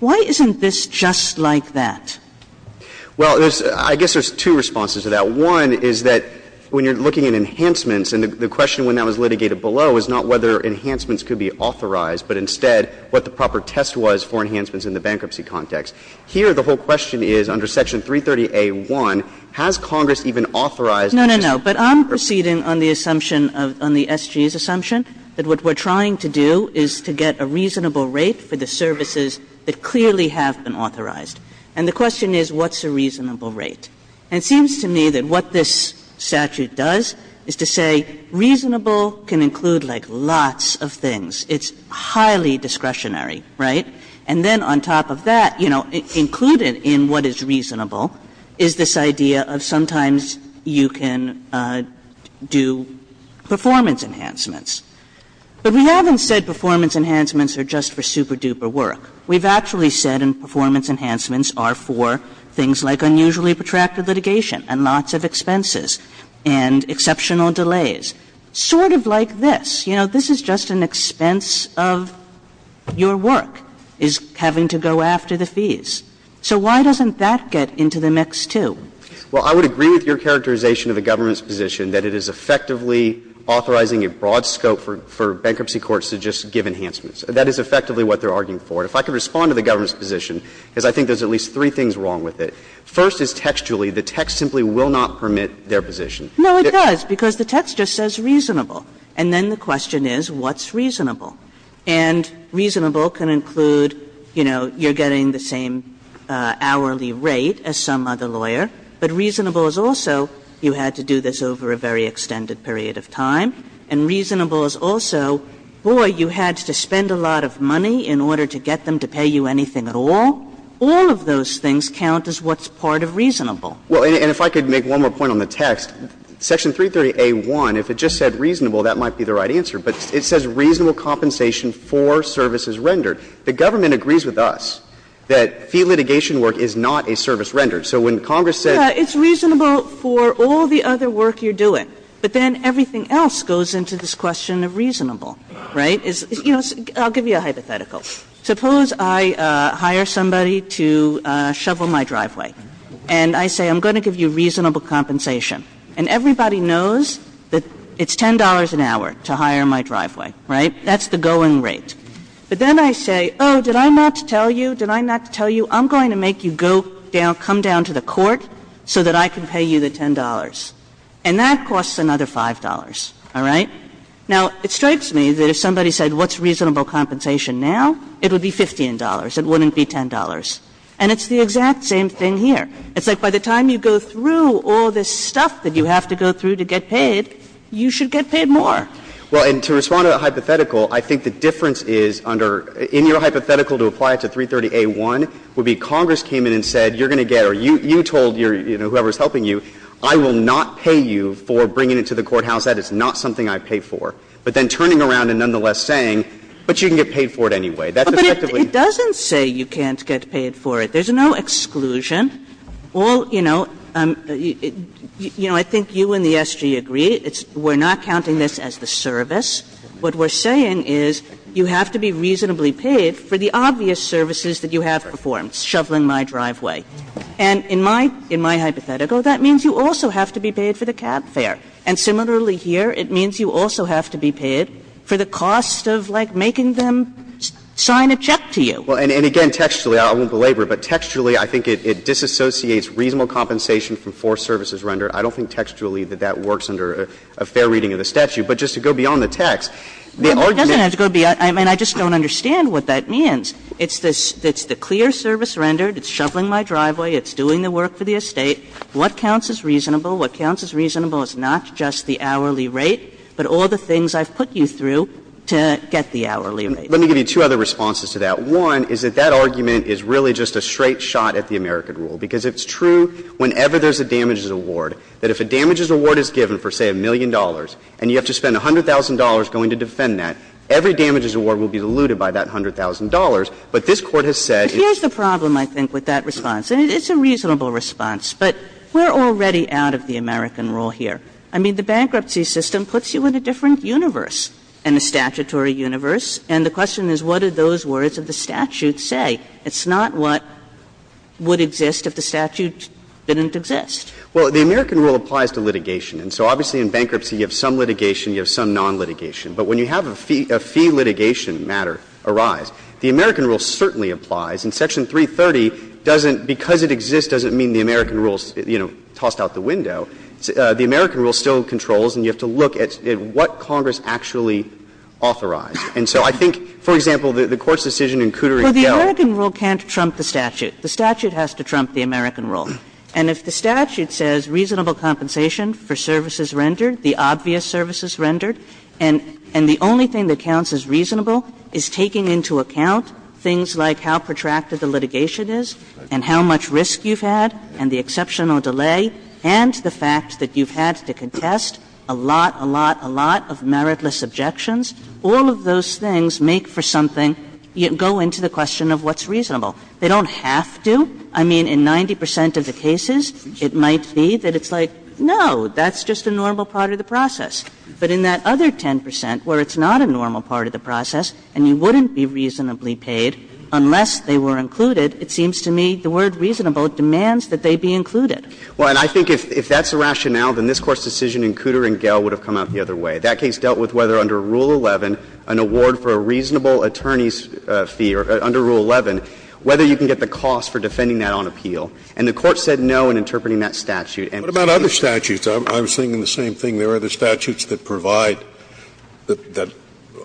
Why isn't this just like that? Well, I guess there's two responses to that. One is that when you're looking at enhancements, and the question when that was litigated below is not whether enhancements could be authorized, but instead what the proper test was for enhancements in the bankruptcy context. Here, the whole question is, under Section 330A.1, has Congress even authorized this? No, no, no. But I'm proceeding on the assumption of the SG's assumption that what we're trying to do is to get a reasonable rate for the services that clearly have been authorized. And the question is, what's a reasonable rate? And it seems to me that what this statute does is to say reasonable can include, like, lots of things. It's highly discretionary, right? And then on top of that, you know, included in what is reasonable is this idea of sometimes you can do performance enhancements. But we haven't said performance enhancements are just for super-duper work. We've actually said performance enhancements are for things like unusually protracted litigation and lots of expenses and exceptional delays, sort of like this. You know, this is just an expense of your work is having to go after the fees. So why doesn't that get into the mix, too? Well, I would agree with your characterization of the government's position that it is effectively authorizing a broad scope for bankruptcy courts to just give enhancements. That is effectively what they're arguing for. If I could respond to the government's position, because I think there's at least three things wrong with it. First is textually, the text simply will not permit their position. No, it does, because the text just says reasonable. And then the question is, what's reasonable? And reasonable can include, you know, you're getting the same hourly rate as some other lawyer, but reasonable is also you had to do this over a very extended period of time, and reasonable is also, boy, you had to spend a lot of money in order to get them to pay you anything at all. All of those things count as what's part of reasonable. Well, and if I could make one more point on the text, Section 330a.1, if it just said reasonable, that might be the right answer. But it says reasonable compensation for services rendered. The government agrees with us that fee litigation work is not a service rendered. So when Congress said that it's reasonable for all the other work you're doing, but then everything else goes into this question of reasonable, right? You know, I'll give you a hypothetical. Suppose I hire somebody to shovel my driveway, and I say I'm going to give you reasonable compensation, and everybody knows that it's $10 an hour to hire my driveway, right? That's the going rate. But then I say, oh, did I not tell you, did I not tell you I'm going to make you go down, come down to the court so that I can pay you the $10? And that costs another $5, all right? Now, it strikes me that if somebody said what's reasonable compensation now, it would be $15. It wouldn't be $10. And it's the exact same thing here. It's like by the time you go through all this stuff that you have to go through to get paid, you should get paid more. Well, and to respond to that hypothetical, I think the difference is under – in your in your story you said you're going to get, or you told your – whoever's helping you, I will not pay you for bringing it to the courthouse, that is not something I pay for, but then turning around and nonetheless saying, but you can get paid for That's effectively... Kagan But it doesn't say you can't get paid for it. There's no exclusion. All, you know, you know, I think you and the SG agree, it's – we're not counting this as the service. What we're saying is you have to be reasonably paid for the obvious services that you have performed, shoveling my driveway. And in my – in my hypothetical, that means you also have to be paid for the cab fare. And similarly here, it means you also have to be paid for the cost of, like, making them sign a check to you. Well, and again, textually, I won't belabor it, but textually I think it disassociates reasonable compensation from forced services rendered. I don't think textually that that works under a fair reading of the statute. But just to go beyond the text, the argument... Kagan No, but it doesn't have to go beyond – I mean, I just don't understand what that means. It's this – it's the clear service rendered, it's shoveling my driveway, it's doing the work for the estate. What counts as reasonable? What counts as reasonable is not just the hourly rate, but all the things I've put you through to get the hourly rate. Let me give you two other responses to that. One is that that argument is really just a straight shot at the American rule, because it's true whenever there's a damages award, that if a damages award is given for, say, a million dollars, and you have to spend $100,000 going to defend that, every damages award will be diluted by that $100,000. But this Court has said... Kagan But here's the problem, I think, with that response. And it's a reasonable response, but we're already out of the American rule here. I mean, the bankruptcy system puts you in a different universe, in a statutory universe, and the question is, what do those words of the statute say? It's not what would exist if the statute didn't exist. Well, the American rule applies to litigation. And so obviously, in bankruptcy, you have some litigation, you have some non-litigation. But when you have a fee litigation matter arise, the American rule certainly applies. And Section 330 doesn't, because it exists, doesn't mean the American rule is, you know, tossed out the window. The American rule still controls, and you have to look at what Congress actually authorized. And so I think, for example, the Court's decision in Cooter v. Gellar... Kagan But the American rule can't trump the statute. The statute has to trump the American rule. And if the statute says reasonable compensation for services rendered, the obvious services rendered, and the only thing that counts as reasonable is taking into account things like how protracted the litigation is and how much risk you've had and the exceptional delay, and the fact that you've had to contest a lot, a lot, a lot of meritless objections, all of those things make for something, go into the question of what's reasonable. They don't have to. I mean, in 90 percent of the cases, it might be that it's like, no, that's just a normal part of the process. But in that other 10 percent where it's not a normal part of the process and you wouldn't be reasonably paid unless they were included, it seems to me the word reasonable demands that they be included. Well, and I think if that's the rationale, then this Court's decision in Cooter v. Gell would have come out the other way. That case dealt with whether under Rule 11, an award for a reasonable attorney's fee, or under Rule 11, whether you can get the cost for defending that on appeal. And the Court said no in interpreting that statute. And so that's why it's not a reasonable part of the process. Scalia, I was thinking the same thing. There are other statutes that provide, that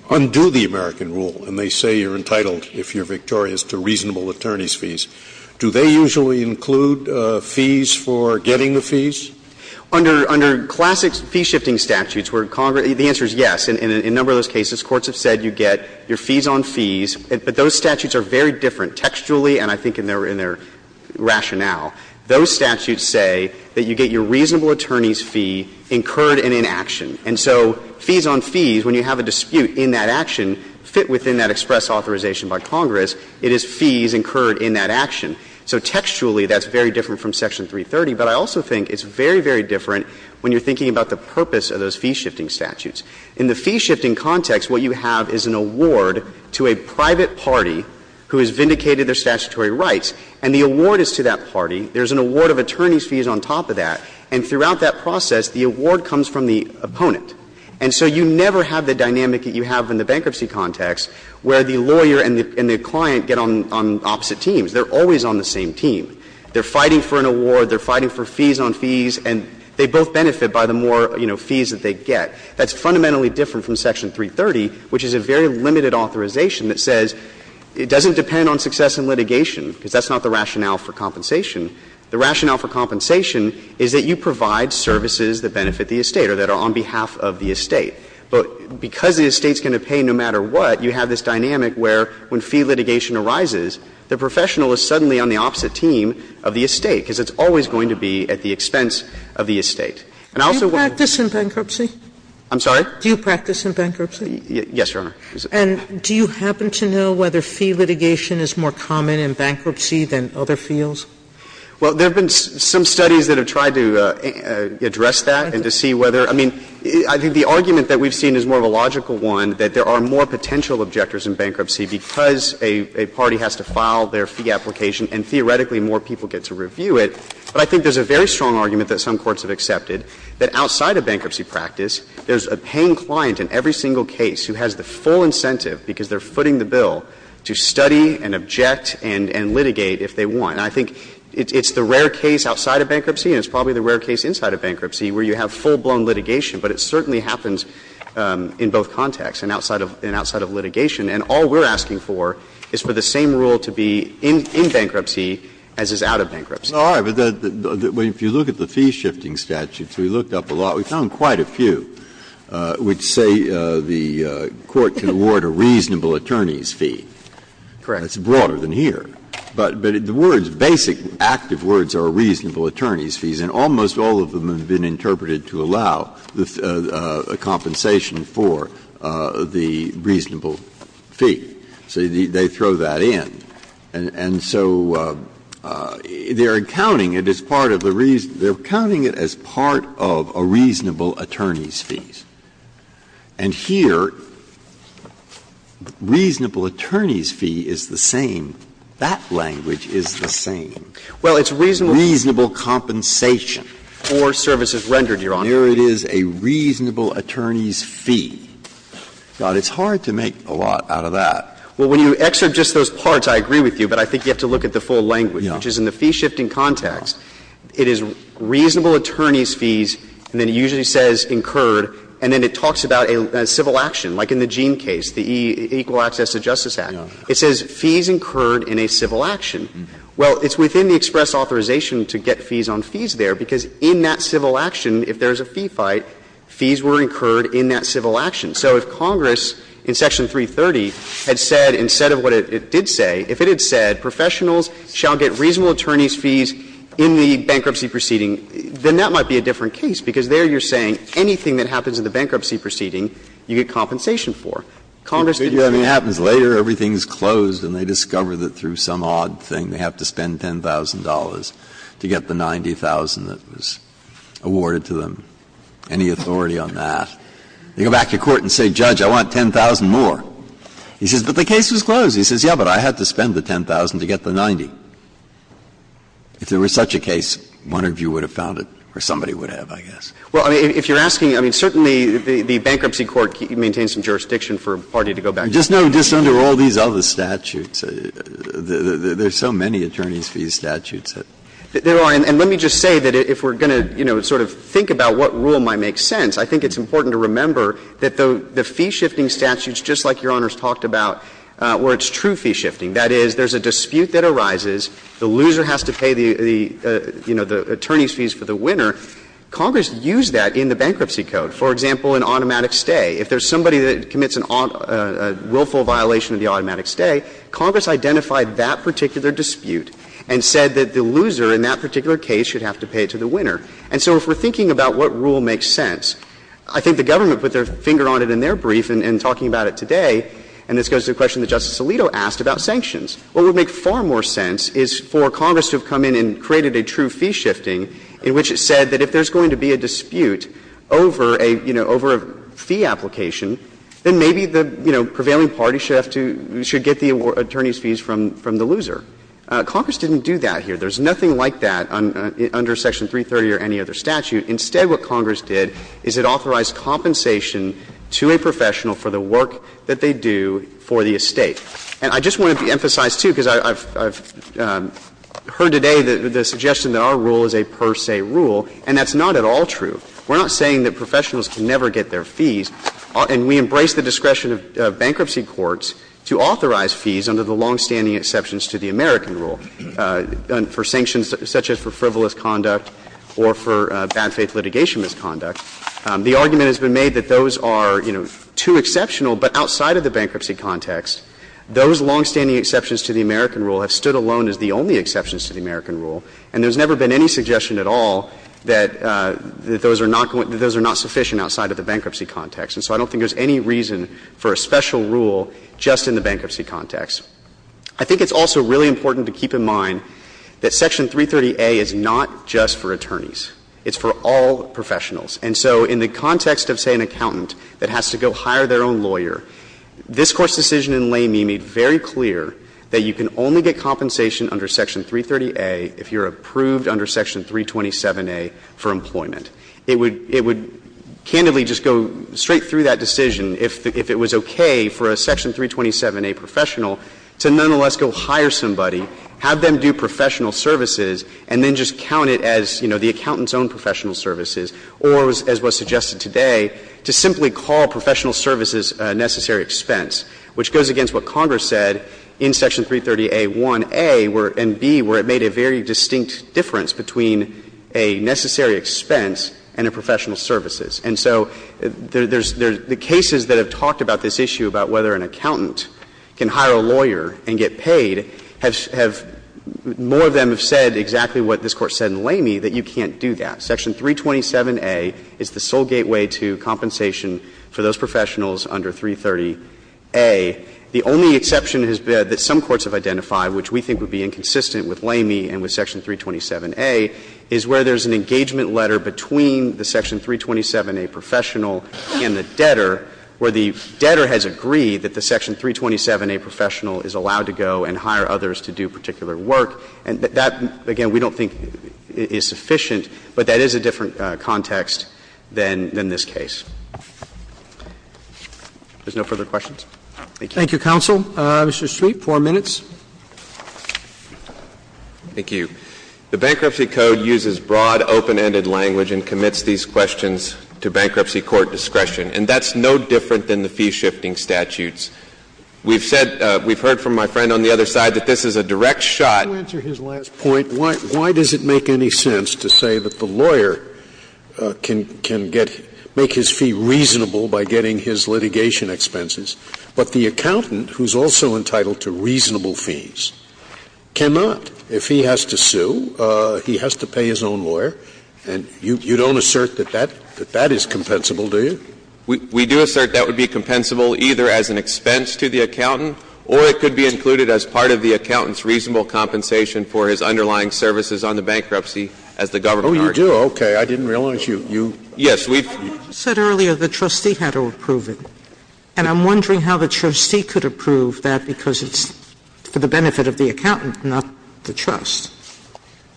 undo the American rule, and they say you're entitled, if you're victorious, to reasonable attorney's fees. Do they usually include fees for getting the fees? Under classic fee-shifting statutes where Congress – the answer is yes. In a number of those cases, courts have said you get your fees on fees, but those statutes are very different textually and I think in their rationale. Those statutes say that you get your reasonable attorney's fee incurred in an action. And so fees on fees, when you have a dispute in that action, fit within that express authorization by Congress. It is fees incurred in that action. So textually, that's very different from Section 330. But I also think it's very, very different when you're thinking about the purpose of those fee-shifting statutes. In the fee-shifting context, what you have is an award to a private party who has vindicated their statutory rights, and the award is to that party. There's an award of attorney's fees on top of that. And throughout that process, the award comes from the opponent. And so you never have the dynamic that you have in the bankruptcy context where the lawyer and the client get on opposite teams. They're always on the same team. They're fighting for an award. They're fighting for fees on fees. And they both benefit by the more, you know, fees that they get. That's fundamentally different from Section 330, which is a very limited authorization that says it doesn't depend on success in litigation, because that's not the rationale for compensation. The rationale for compensation is that you provide services that benefit the estate or that are on behalf of the estate. But because the estate's going to pay no matter what, you have this dynamic where when fee litigation arises, the professional is suddenly on the opposite team of the estate, because it's always going to be at the expense of the estate. I'm sorry? Sotomayor, do you practice in bankruptcy? Yes, Your Honor. And do you happen to know whether fee litigation is more common in bankruptcy than other fields? Well, there have been some studies that have tried to address that and to see whether – I mean, I think the argument that we've seen is more of a logical one, that there are more potential objectors in bankruptcy because a party has to file their fee application and theoretically more people get to review it. But I think there's a very strong argument that some courts have accepted that outside of bankruptcy practice, there's a paying client in every single case who has the full incentive, because they're footing the bill, to study and object and litigate if they want. And I think it's the rare case outside of bankruptcy and it's probably the rare case inside of bankruptcy where you have full-blown litigation, but it certainly happens in both contexts and outside of litigation. And all we're asking for is for the same rule to be in bankruptcy as is out of bankruptcy. Well, all right. But if you look at the fee-shifting statutes, we looked up a lot. We found quite a few which say the court can award a reasonable attorney's fee. Correct. It's broader than here. But the words, basic active words are reasonable attorney's fees, and almost all of them have been interpreted to allow a compensation for the reasonable fee. So they throw that in. And so they're accounting it as part of the reason they're accounting it as part of a reasonable attorney's fees. And here, reasonable attorney's fee is the same. That language is the same. Well, it's reasonable compensation. For services rendered, Your Honor. Here it is, a reasonable attorney's fee. God, it's hard to make a lot out of that. Well, when you excerpt just those parts, I agree with you, but I think you have to look at the full language, which is in the fee-shifting context, it is reasonable attorney's fees, and then it usually says incurred, and then it talks about a civil action, like in the Jean case, the Equal Access to Justice Act. It says fees incurred in a civil action. Well, it's within the express authorization to get fees on fees there, because in that civil action, if there's a fee fight, fees were incurred in that civil action. So if Congress, in Section 330, had said, instead of what it did say, if it had said professionals shall get reasonable attorney's fees in the bankruptcy proceeding, then that might be a different case, because there you're saying anything that happens in the bankruptcy proceeding, you get compensation for. Congress did that in the Equal Access to Justice Act. Breyer. If it happens later, everything is closed, and they discover that through some odd thing, they have to spend $10,000 to get the $90,000 that was awarded to them, any authority on that. They go back to court and say, Judge, I want $10,000 more. He says, but the case was closed. He says, yes, but I had to spend the $10,000 to get the $90,000. If there was such a case, one of you would have found it, or somebody would have, I guess. Well, if you're asking, I mean, certainly the bankruptcy court maintains some jurisdiction for a party to go back and look. Just under all these other statutes, there's so many attorney's fees statutes. There are, and let me just say that if we're going to, you know, sort of think about what rule might make sense, I think it's important to remember that the fee-shifting statutes, just like Your Honor's talked about, where it's true fee-shifting, that is, there's a dispute that arises, the loser has to pay the, you know, the attorney's fees for the winner. Congress used that in the bankruptcy code. For example, in automatic stay, if there's somebody that commits a willful violation of the automatic stay, Congress identified that particular dispute and said that the loser in that particular case should have to pay it to the winner. And so if we're thinking about what rule makes sense, I think the government put their finger on it in their brief and talking about it today, and this goes to the question that Justice Alito asked about sanctions. What would make far more sense is for Congress to have come in and created a true fee-shifting in which it said that if there's going to be a dispute over a, you know, over a fee application, then maybe the, you know, prevailing party should have to get the attorney's fees from the loser. Congress didn't do that here. There's nothing like that under Section 330 or any other statute. Instead, what Congress did is it authorized compensation to a professional for the work that they do for the estate. And I just want to emphasize, too, because I've heard today the suggestion that our rule is a per se rule, and that's not at all true. We're not saying that professionals can never get their fees, and we embrace the discretion of bankruptcy courts to authorize fees under the longstanding exceptions to the American rule for sanctions such as for frivolous conduct or for bad faith litigation misconduct. The argument has been made that those are, you know, too exceptional, but outside of the bankruptcy context, those longstanding exceptions to the American rule have stood alone as the only exceptions to the American rule, and there's never been any suggestion at all that those are not sufficient outside of the bankruptcy context. And so I don't think there's any reason for a special rule just in the bankruptcy context. I think it's also really important to keep in mind that Section 330A is not just for attorneys. It's for all professionals. And so in the context of, say, an accountant that has to go hire their own lawyer, this Court's decision in Lamy made very clear that you can only get compensation under Section 330A if you're approved under Section 327A for employment. It would — it would candidly just go straight through that decision if it was okay for a Section 327A professional to nonetheless go hire somebody, have them do professional services, and then just count it as, you know, the accountant's own professional services, or as was suggested today, to simply call professional services a necessary expense, which goes against what Congress said in Section 330A, 1a, and b, where it made a very distinct difference between a necessary expense and a professional services. And so there's — there's — the cases that have talked about this issue, about whether an accountant can hire a lawyer and get paid, have — have — more of them have said exactly what this Court said in Lamy, that you can't do that. Section 327A is the sole gateway to compensation for those professionals under 330A. The only exception that some courts have identified, which we think would be inconsistent with Lamy and with Section 327A, is where there's an engagement letter between the Section 327A professional and the debtor, where the debtor has agreed that the Section 327A professional is allowed to go and hire others to do particular work. And that — that, again, we don't think is sufficient, but that is a different context than — than this case. If there's no further questions, thank you. Roberts. Thank you, counsel. Mr. Shreve, four minutes. Thank you. The Bankruptcy Code uses broad, open-ended language and commits these questions to bankruptcy court discretion, and that's no different than the fee-shifting statutes. We've said — we've heard from my friend on the other side that this is a direct shot. I want to answer his last point. Why — why does it make any sense to say that the lawyer can — can get — make his fee reasonable by getting his litigation expenses, but the accountant, who's also entitled to reasonable fees, cannot, if he has to sue, he has to pay his own lawyer? And you — you don't assert that that — that that is compensable, do you? We — we do assert that would be compensable either as an expense to the accountant or it could be included as part of the accountant's reasonable compensation for his underlying services on the bankruptcy as the government argued. Oh, you do? Okay. I didn't realize you — you — Yes, we've — You said earlier the trustee had to approve it, and I'm wondering how the trustee could approve that, because it's for the benefit of the accountant, not the trust.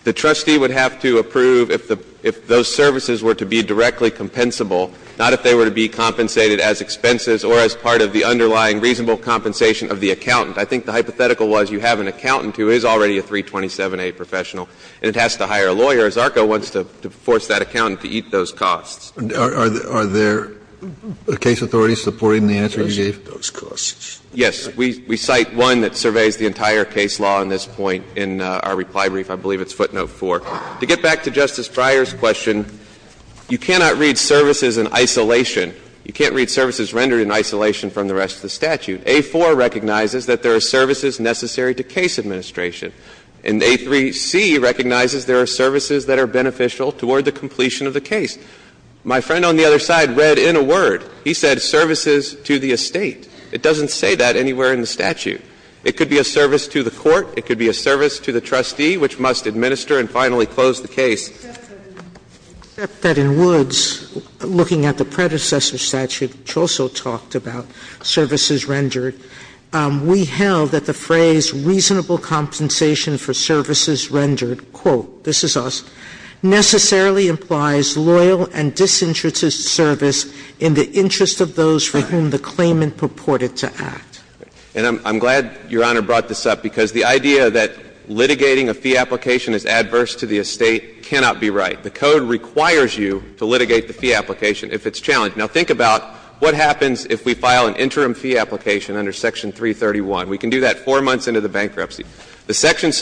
The trustee would have to approve if the — if those services were to be directly compensable, not if they were to be compensated as expenses or as part of the underlying reasonable compensation of the accountant. I think the hypothetical was you have an accountant who is already a 327A professional and it has to hire a lawyer, as ARCA wants to — to force that accountant to eat those Are — are there case authorities supporting the answer you gave? Yes. The trustee has to make sure that those costs — Yes. We — we cite one that surveys the entire case law in this point in our reply brief. I believe it's footnote 4. To get back to Justice Breyer's question, you cannot read services in isolation. You can't read services rendered in isolation from the rest of the statute. A4 recognizes that there are services necessary to case administration, and A3C recognizes there are services that are beneficial toward the completion of the case. My friend on the other side read in a word. He said services to the estate. It doesn't say that anywhere in the statute. It could be a service to the court. It could be a service to the trustee, which must administer and finally close the case. Except that in Woods, looking at the predecessor statute, which also talked about services rendered, we held that the phrase, And I'm glad Your Honor brought this up, because the idea that litigating a fee application is adverse to the estate cannot be right. The code requires you to litigate the fee application if it's challenged. Now, think about what happens if we file an interim fee application under Section 331. The second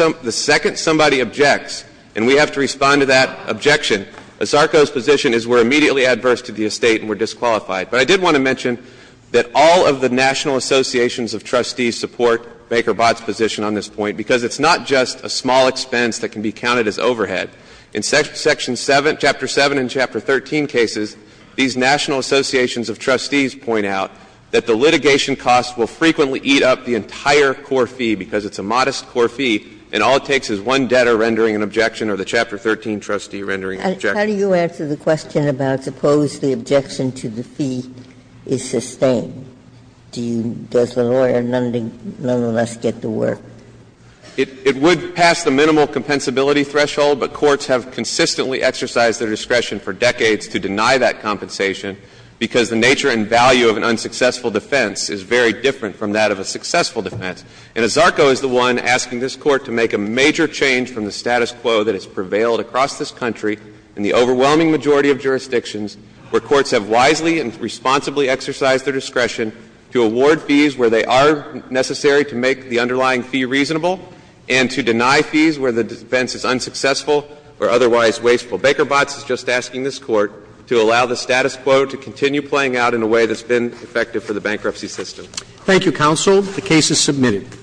somebody objects, and we have to respond to that objection, ASARCO's position is we're immediately adverse to the estate and we're disqualified. But I did want to mention that all of the National Associations of Trustees support Baker-Bott's position on this point, because it's not just a small expense that can be counted as overhead. In Section 7, Chapter 7 and Chapter 13 cases, these National Associations of Trustees point out that the litigation cost will frequently eat up the entire core fee, because it's a modest core fee, and all it takes is one debtor rendering an objection or the Chapter 13 trustee rendering an objection. How do you answer the question about suppose the objection to the fee is sustained? Does the lawyer nonetheless get the work? It would pass the minimal compensability threshold, but courts have consistently exercised their discretion for decades to deny that compensation, because the nature and value of an unsuccessful defense is very different from that of a successful defense. And ASARCO is the one asking this Court to make a major change from the status quo that has prevailed across this country in the overwhelming majority of jurisdictions where courts have wisely and responsibly exercised their discretion to award fees where they are necessary to make the underlying fee reasonable and to deny fees where the defense is unsuccessful or otherwise wasteful. Baker-Bott's is just asking this Court to allow the status quo to continue playing out in a way that's been effective for the bankruptcy system. Thank you, Counsel. The case is submitted.